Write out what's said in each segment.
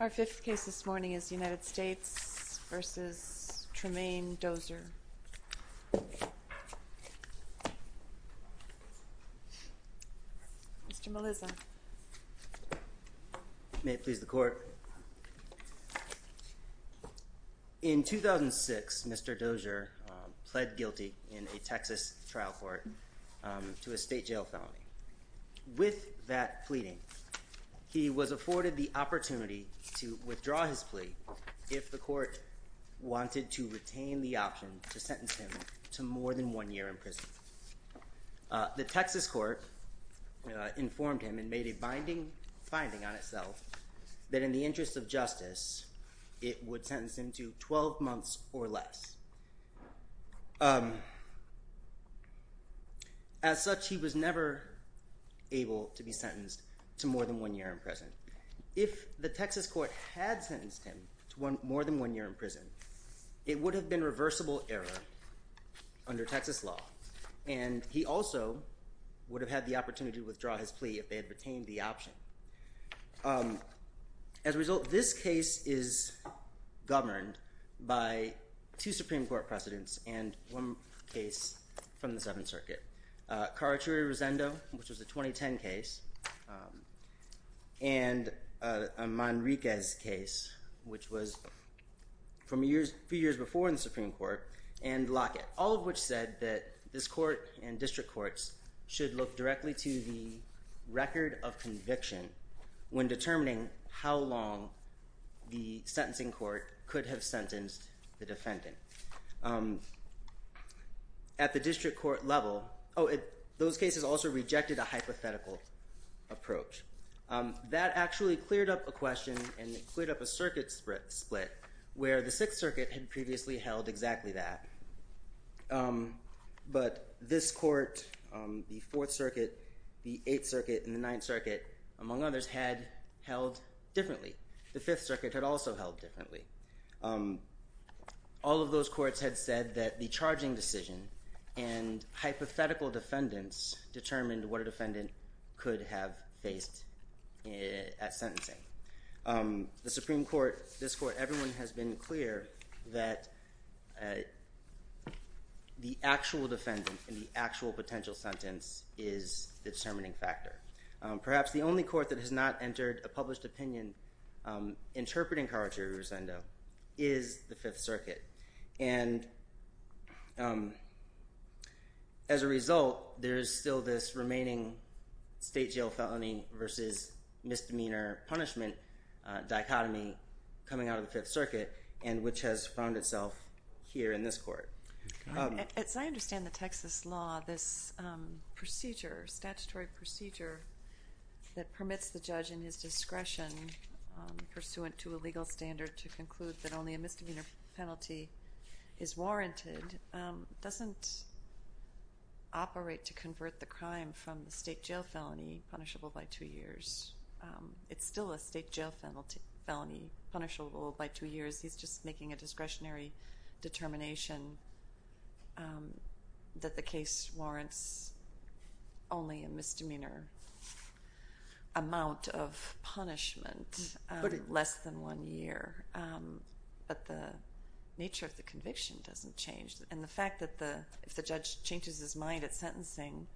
Our fifth case this morning is United States v. Tremayne Dozier. In 2006, Mr. Dozier pled guilty in a Texas trial court to a state jail felony. With that pleading, he was afforded the opportunity to withdraw his plea if the court wanted to sentence him to more than one year in prison. The Texas court informed him and made a binding finding on itself that in the interest of justice it would sentence him to 12 months or less. As such, he was never able to be sentenced to more than one year in prison. If the Texas court had sentenced him to more than one year in prison, it would have been a reversible error under Texas law, and he also would have had the opportunity to withdraw his plea if they had retained the option. As a result, this case is governed by two Supreme Court precedents and one case from the Seventh Circuit, Carachuri-Rosendo, which was a 2010 case, and a Manriquez case, which was from a few years before in the Supreme Court, and Lockett, all of which said that this court and district courts should look directly to the record of conviction when determining how long the sentencing court could have sentenced the defendant. At the district court level, those cases also rejected a hypothetical approach. That actually cleared up a question and it cleared up a circuit split where the Sixth Circuit had previously held exactly that, but this court, the Fourth Circuit, the Eighth Circuit, and the Ninth Circuit, among others, had held differently. The Fifth Circuit had also held differently. All of those courts had said that the charging decision and hypothetical defendants determined what a defendant could have faced at sentencing. The Supreme Court, this court, everyone has been clear that the actual defendant and the actual potential sentence is the determining factor. Perhaps the only court that has not entered a published opinion interpreting Carachuri-Rosendo is the Fifth Circuit. As a result, there is still this remaining state jail felony versus misdemeanor punishment dichotomy coming out of the Fifth Circuit, and which has found itself here in this court. As I understand the Texas law, this procedure, statutory procedure that permits the judge in his discretion pursuant to a legal standard to conclude that only a misdemeanor penalty is warranted doesn't operate to convert the crime from the state jail felony punishable by two years. It's still a state jail felony punishable by two years. He's just making a discretionary determination that the case warrants only a misdemeanor amount of punishment less than one year. But the nature of the conviction doesn't change. And the fact that if the judge changes his mind at sentencing,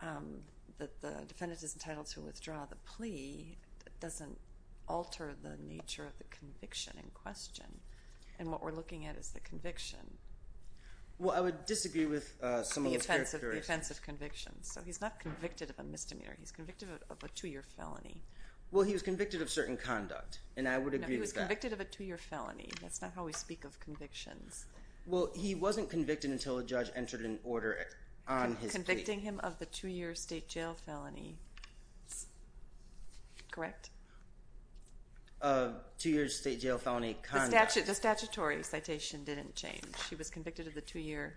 that the defendant is entitled to withdraw the plea doesn't alter the nature of the conviction in question. And what we're looking at is the conviction. Well, I would disagree with some of those characteristics. The offensive conviction. So he's not convicted of a misdemeanor. He's convicted of a two-year felony. Well, he was convicted of certain conduct, and I would agree with that. No, he was convicted of a two-year felony. That's not how we speak of convictions. Well, he wasn't convicted until a judge entered an order on his plea. Convicting him of the two-year state jail felony. Correct? Two-year state jail felony conduct. The statutory citation didn't change. He was convicted of the two-year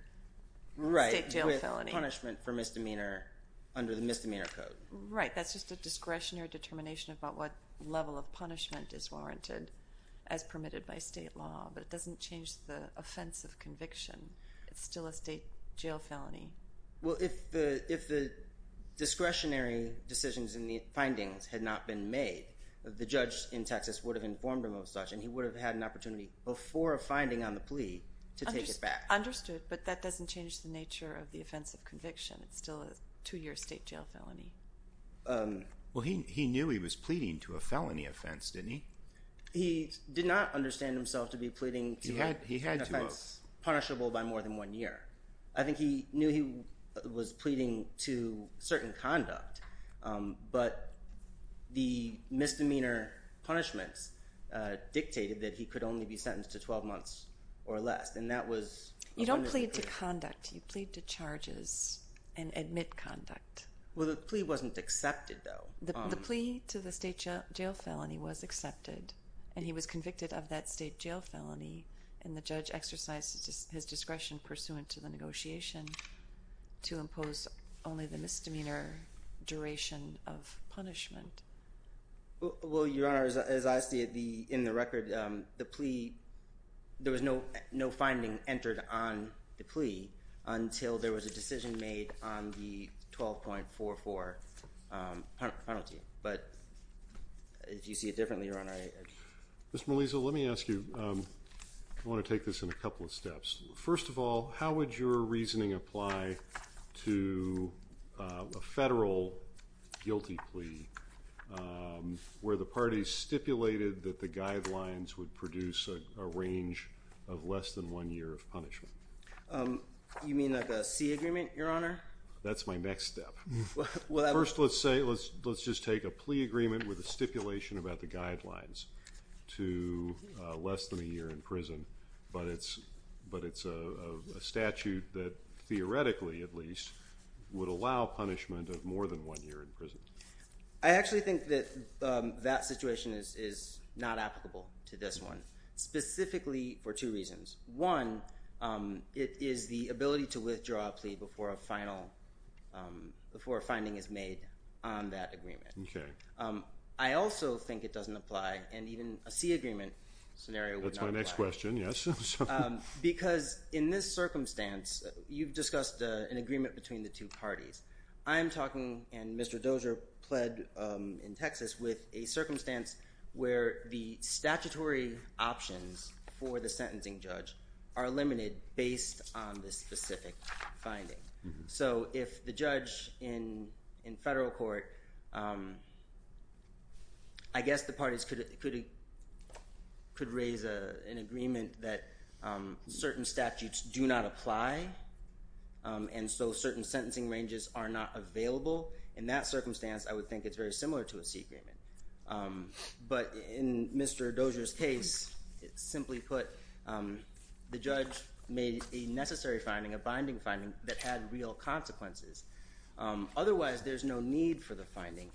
state jail felony. Punishment for misdemeanor under the misdemeanor code. Right, that's just a discretionary determination about what level of punishment is warranted as permitted by state law. But it doesn't change the offensive conviction. It's still a state jail felony. Well, if the discretionary decisions and the findings had not been made, the judge in Texas would have informed him of such, and he would have had an opportunity before a finding on the plea to take it back. Understood, but that doesn't change the nature of the offensive conviction. It's still a two-year state jail felony. Well, he knew he was pleading to a felony offense, didn't he? He did not understand himself to be pleading to an offense punishable by more than one year. I think he knew he was pleading to certain conduct, but the misdemeanor punishments dictated that he could only be sentenced to 12 months or less, You don't plead to conduct. You plead to charges and admit conduct. Well, the plea wasn't accepted, though. The plea to the state jail felony was accepted, and he was convicted of that state jail felony, and the judge exercised his discretion pursuant to the negotiation to impose only the misdemeanor duration of punishment. Well, Your Honor, as I see it in the record, the plea, there was no finding entered on the plea until there was a decision made on the 12.44 penalty, but if you see it differently, Your Honor. Ms. Melisa, let me ask you, I want to take this in a couple of steps. First of all, how would your reasoning apply to a federal guilty plea where the parties stipulated that the guidelines would produce a range of less than one year of punishment? You mean like a C agreement, Your Honor? That's my next step. First, let's just take a plea agreement with a stipulation about the guidelines to less than a year in prison, but it's a statute that theoretically, at least, would allow punishment of more than one year in prison. I actually think that that situation is not applicable to this one, specifically for two reasons. One, it is the ability to withdraw a plea before a finding is made on that agreement. I also think it doesn't apply, and even a C agreement scenario would not apply. That's my next question, yes. Because in this circumstance, you've discussed an agreement between the two parties. I'm talking, and Mr. Dozier pled in Texas, with a circumstance where the statutory options for the sentencing judge are limited based on the specific finding. So if the judge in federal court, I guess the parties could raise an agreement that certain statutes do not apply, and so certain sentencing ranges are not available. In that circumstance, I would think it's very similar to a C agreement. But in Mr. Dozier's case, simply put, the judge made a necessary finding, a binding finding, that had real consequences. Otherwise, there's no need for the finding,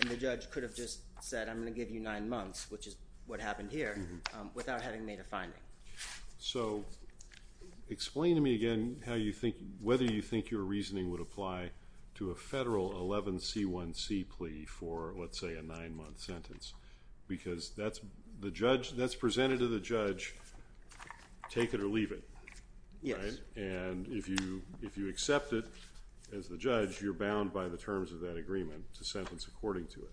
and the judge could have just said, I'm going to give you nine months, which is what happened here, without having made a finding. So explain to me again whether you think your reasoning would apply to a federal 11C1C plea for, let's say, a nine-month sentence. Because that's presented to the judge, take it or leave it, right? Yes. And if you accept it as the judge, you're bound by the terms of that agreement to sentence according to it.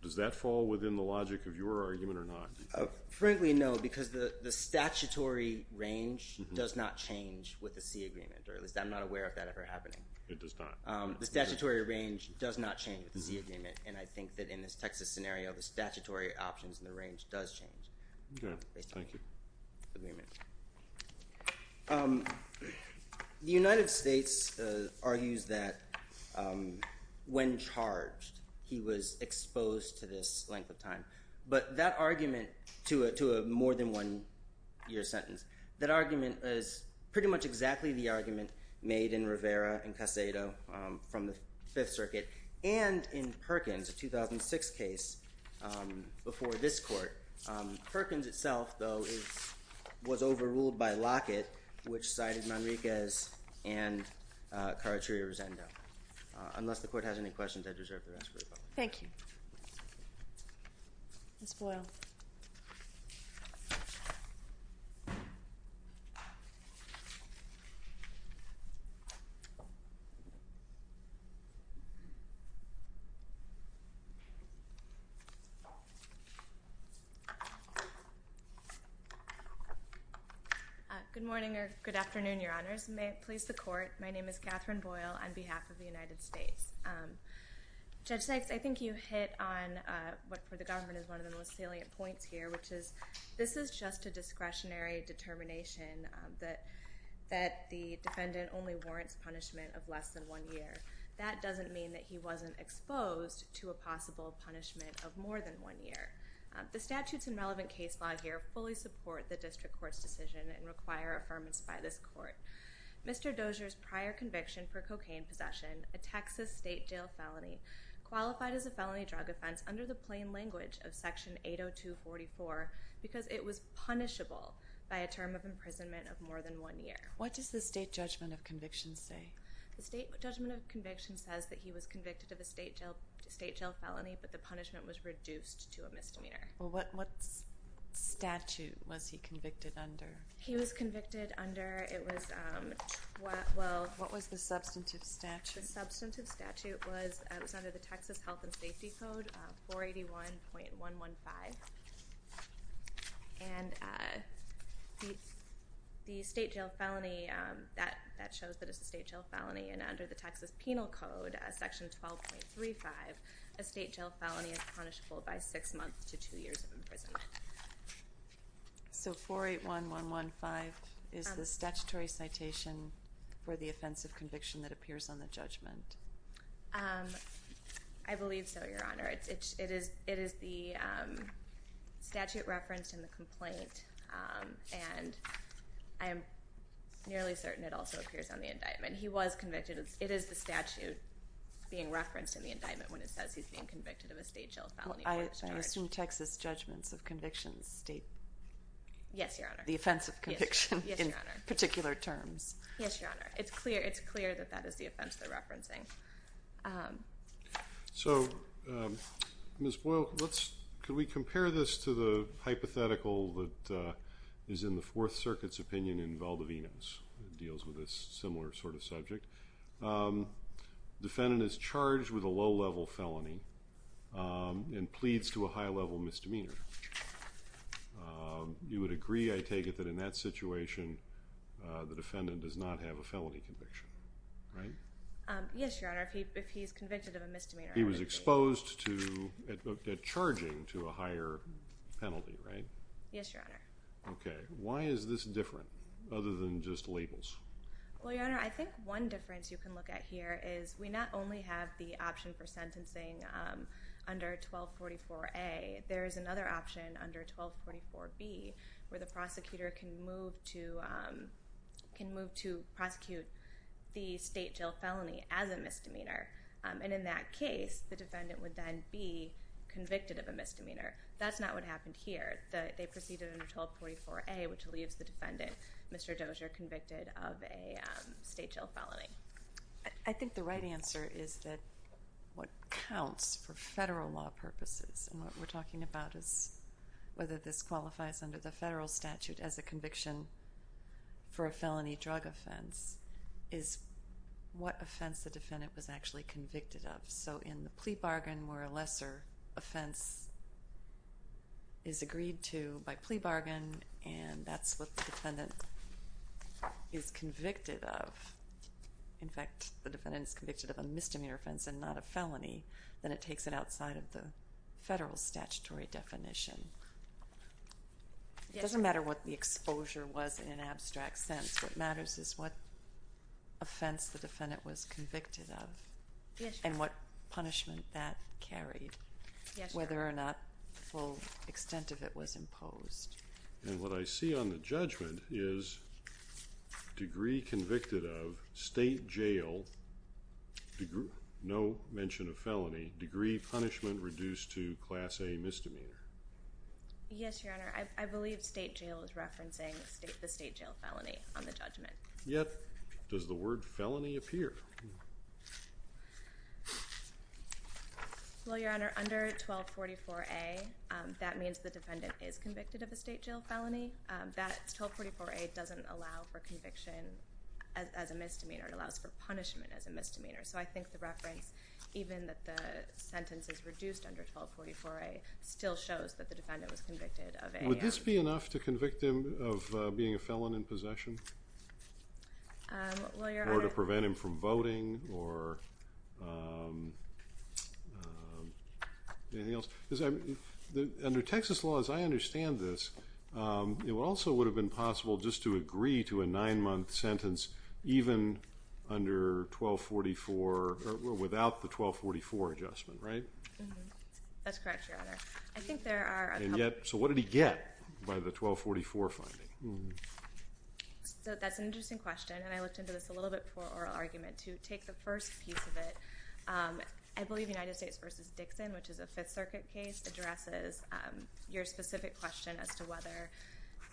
Does that fall within the logic of your argument or not? Frankly, no, because the statutory range does not change with the C agreement, or at least I'm not aware of that ever happening. It does not. The statutory range does not change with the C agreement, and I think that in this Texas scenario, the statutory options in the range does change. Okay. Thank you. The United States argues that when charged, he was exposed to this length of time. But that argument to a more than one-year sentence, that argument is pretty much exactly the argument made in Rivera and Casado from the Fifth Circuit and in Perkins, a 2006 case before this court. Perkins itself, though, was overruled by Lockett, which cited Manriquez and Carachirio-Rosendo. Unless the court has any questions, I deserve the rest of the rebuttal. Thank you. Ms. Boyle. Good morning or good afternoon, Your Honors, and may it please the court. My name is Catherine Boyle on behalf of the United States. Judge Sykes, I think you hit on what, for the government, is one of the most salient points here, which is this is just a discretionary determination that the defendant only warrants punishment of less than one year. That doesn't mean that he wasn't exposed to a possible punishment of more than one year. The statutes and relevant case law here fully support the district court's decision and require affirmance by this court. Mr. Dozier's prior conviction for cocaine possession, a Texas state jail felony, qualified as a felony drug offense under the plain language of Section 802.44 because it was punishable by a term of imprisonment of more than one year. What does the state judgment of conviction say? The state judgment of conviction says that he was convicted of a state jail felony, but the punishment was reduced to a misdemeanor. What statute was he convicted under? He was convicted under, it was, well... What was the substantive statute? The substantive statute was under the Texas Health and Safety Code, 481.115. And the state jail felony, that shows that it's a state jail felony, and under the Texas Penal Code, Section 12.35, a state jail felony is punishable by six months to two years of imprisonment. So 481.115 is the statutory citation for the offense of conviction that appears on the judgment. I believe so, Your Honor. It is the statute referenced in the complaint, and I am nearly certain it also appears on the indictment. He was convicted. It is the statute being referenced in the indictment when it says he's being convicted of a state jail felony. I assume Texas judgments of conviction state... Yes, Your Honor. ...the offense of conviction in particular terms. Yes, Your Honor. It's clear that that is the offense they're referencing. So, Ms. Boyle, could we compare this to the hypothetical that is in the Fourth Circuit's opinion in Valdivino's? It deals with a similar sort of subject. Defendant is charged with a low-level felony and pleads to a high-level misdemeanor. You would agree, I take it, that in that situation, the defendant does not have a felony conviction, right? Yes, Your Honor, if he's convicted of a misdemeanor. He was exposed at charging to a higher penalty, right? Yes, Your Honor. Okay. Why is this different other than just labels? Well, Your Honor, I think one difference you can look at here is we not only have the option for sentencing under 1244A, there is another option under 1244B where the prosecutor can move to prosecute the state jail felony as a misdemeanor. And in that case, the defendant would then be convicted of a misdemeanor. That's not what happened here. They proceeded under 1244A, which leaves the defendant, Mr. Dozier, convicted of a state jail felony. I think the right answer is that what counts for federal law purposes and what we're talking about is whether this qualifies under the federal statute as a conviction for a felony drug offense is what offense the defendant was actually convicted of. So in the plea bargain where a lesser offense is agreed to by plea bargain and that's what the defendant is convicted of, in fact, the defendant is convicted of a misdemeanor offense and not a felony, then it takes it outside of the federal statutory definition. It doesn't matter what the exposure was in an abstract sense. What matters is what offense the defendant was convicted of and what punishment that carried, whether or not the full extent of it was imposed. And what I see on the judgment is degree convicted of state jail, no mention of felony, degree punishment reduced to Class A misdemeanor. Yes, Your Honor. I believe state jail is referencing the state jail felony on the judgment. Yet does the word felony appear? Well, Your Honor, under 1244A, that means the defendant is convicted of a state jail felony. That 1244A doesn't allow for conviction as a misdemeanor. It allows for punishment as a misdemeanor. So I think the reference, even that the sentence is reduced under 1244A, still shows that the defendant was convicted of a felony. Would this be enough to convict him of being a felon in possession? Well, Your Honor. Or to prevent him from voting or anything else? Under Texas law, as I understand this, it also would have been possible just to agree to a nine-month sentence even under 1244 or without the 1244 adjustment, right? That's correct, Your Honor. And yet, so what did he get by the 1244 finding? So that's an interesting question, and I looked into this a little bit for oral argument. To take the first piece of it, I believe United States v. Dixon, which is a Fifth Circuit case, addresses your specific question as to whether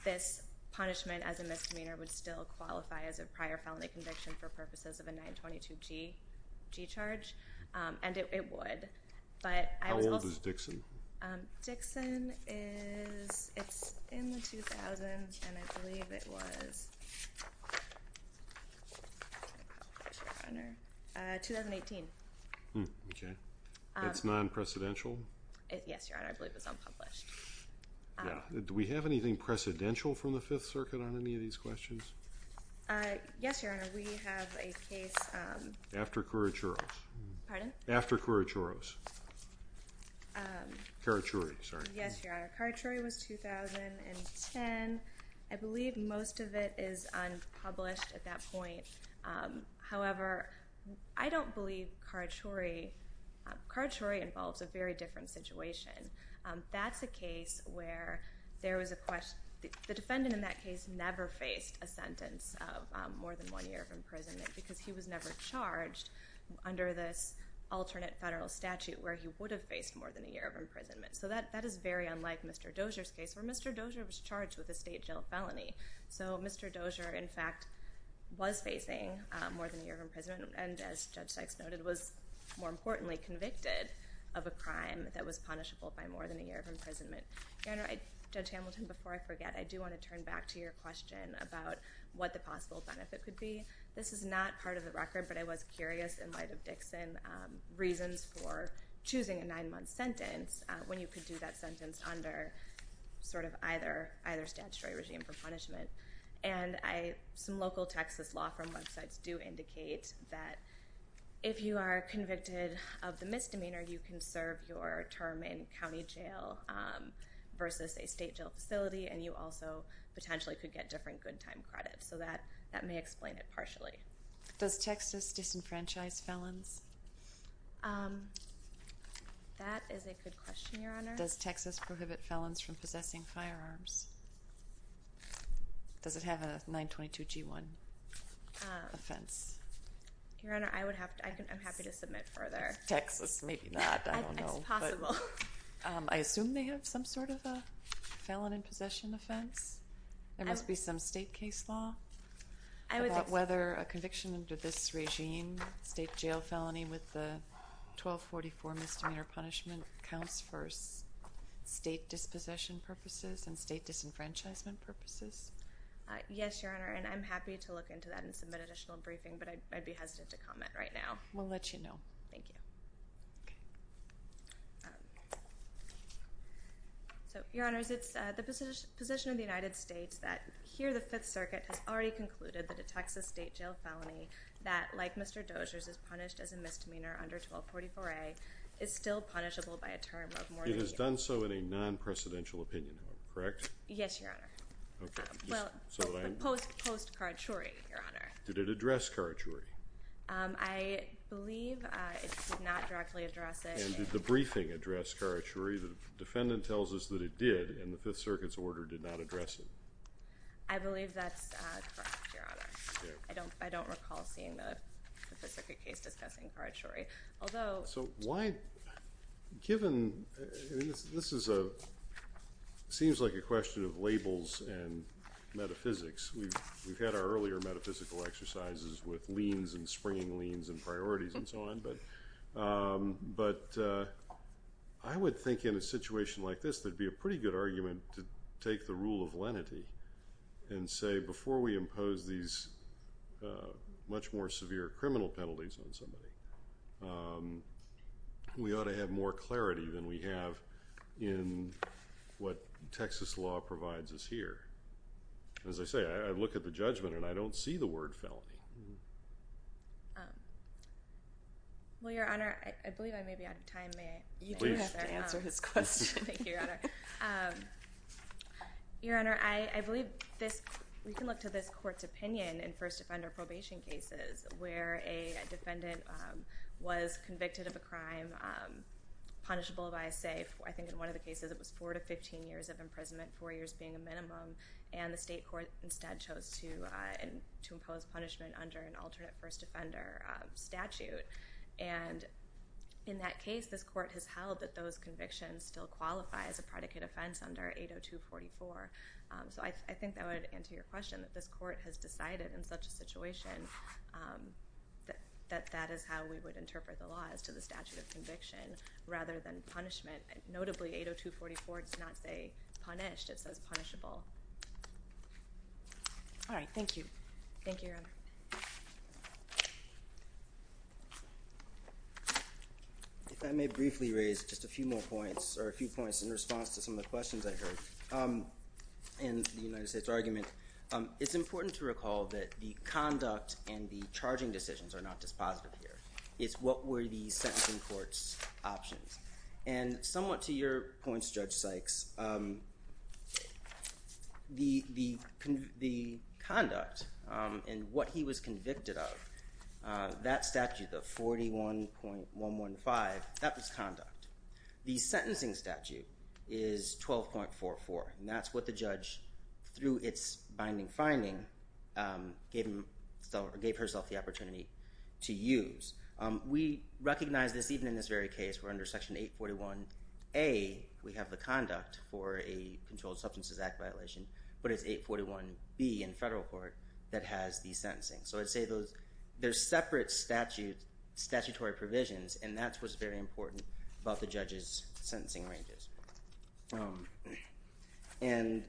this punishment as a misdemeanor would still qualify as a prior felony conviction for purposes of a 922G charge, and it would. How old is Dixon? Dixon is in the 2000s, and I believe it was 2018. Okay. It's non-precedential? Yes, Your Honor. I believe it's unpublished. Yeah. Do we have anything precedential from the Fifth Circuit on any of these questions? Yes, Your Honor. We have a case. After Curachuros. Pardon? After Curachuros. Karachuri, sorry. Yes, Your Honor. Karachuri was 2010. I believe most of it is unpublished at that point. However, I don't believe Karachuri. Karachuri involves a very different situation. That's a case where there was a question. The defendant in that case never faced a sentence of more than one year of imprisonment because he was never charged under this alternate federal statute where he would have faced more than a year of imprisonment. So that is very unlike Mr. Dozier's case where Mr. Dozier was charged with a state jail felony. So Mr. Dozier, in fact, was facing more than a year of imprisonment and, as Judge Sykes noted, was, more importantly, convicted of a crime that was punishable by more than a year of imprisonment. Your Honor, Judge Hamilton, before I forget, I do want to turn back to your question about what the possible benefit could be. This is not part of the record, but I was curious, in light of Dixon, reasons for choosing a nine-month sentence when you could do that sentence under sort of either statutory regime for punishment. And some local Texas law firm websites do indicate that if you are convicted of the misdemeanor, you can serve your term in county jail versus a state jail facility, and you also potentially could get different good time credits. So that may explain it partially. Does Texas disenfranchise felons? That is a good question, Your Honor. Does Texas prohibit felons from possessing firearms? Does it have a 922g1 offense? Your Honor, I'm happy to submit further. Texas, maybe not. I don't know. It's possible. I assume they have some sort of a felon in possession offense. There must be some state case law about whether a conviction under this regime, state jail felony with the 1244 misdemeanor punishment, counts for state dispossession purposes and state disenfranchisement purposes. Yes, Your Honor, and I'm happy to look into that and submit an additional briefing, but I'd be hesitant to comment right now. We'll let you know. Thank you. So, Your Honors, it's the position of the United States that here the Fifth Circuit has already concluded that a Texas state jail felony that, like Mr. Doziers, is punished as a misdemeanor under 1244A, is still punishable by a term of more than the— It has done so in a non-presidential opinion, correct? Yes, Your Honor. Okay. Well, post Karachuri, Your Honor. Did it address Karachuri? I believe it did not directly address it. And did the briefing address Karachuri? The defendant tells us that it did, and the Fifth Circuit's order did not address it. I believe that's correct, Your Honor. Okay. I don't recall seeing the Fifth Circuit case discussing Karachuri, although— So why—given—this is a—seems like a question of labels and metaphysics. We've had our earlier metaphysical exercises with liens and springing liens and priorities and so on, but I would think in a situation like this there'd be a pretty good argument to take the rule of lenity and say before we impose these much more severe criminal penalties on somebody, we ought to have more clarity than we have in what Texas law provides us here. As I say, I look at the judgment and I don't see the word felony. Well, Your Honor, I believe I may be out of time. You do have to answer his question. Thank you, Your Honor. Your Honor, I believe this—we can look to this court's opinion in first offender probation cases where a defendant was convicted of a crime punishable by a safe. I think in one of the cases it was four to 15 years of imprisonment, four years being a minimum, and the state court instead chose to impose punishment under an alternate first offender statute. And in that case, this court has held that those convictions still qualify as a predicate offense under 802.44. So I think that would answer your question, that this court has decided in such a situation that that is how we would interpret the law as to the statute of conviction rather than punishment. Notably, 802.44 does not say punished. It says punishable. Thank you, Your Honor. If I may briefly raise just a few more points or a few points in response to some of the questions I heard in the United States argument, it's important to recall that the conduct and the charging decisions are not dispositive here. It's what were the sentencing court's options. And somewhat to your points, Judge Sykes, the conduct and what he was convicted of, that statute, the 41.115, that was conduct. The sentencing statute is 12.44, and that's what the judge, through its binding finding, gave herself the opportunity to use. We recognize this even in this very case where under Section 841A, we have the conduct for a controlled substances act violation, but it's 841B in federal court that has the sentencing. So I'd say there's separate statutory provisions, and that's what's very important about the judge's sentencing ranges. And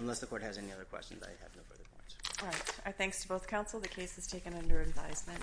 unless the court has any other questions, I have no further points. All right. Our thanks to both counsel. The case is taken under advisement.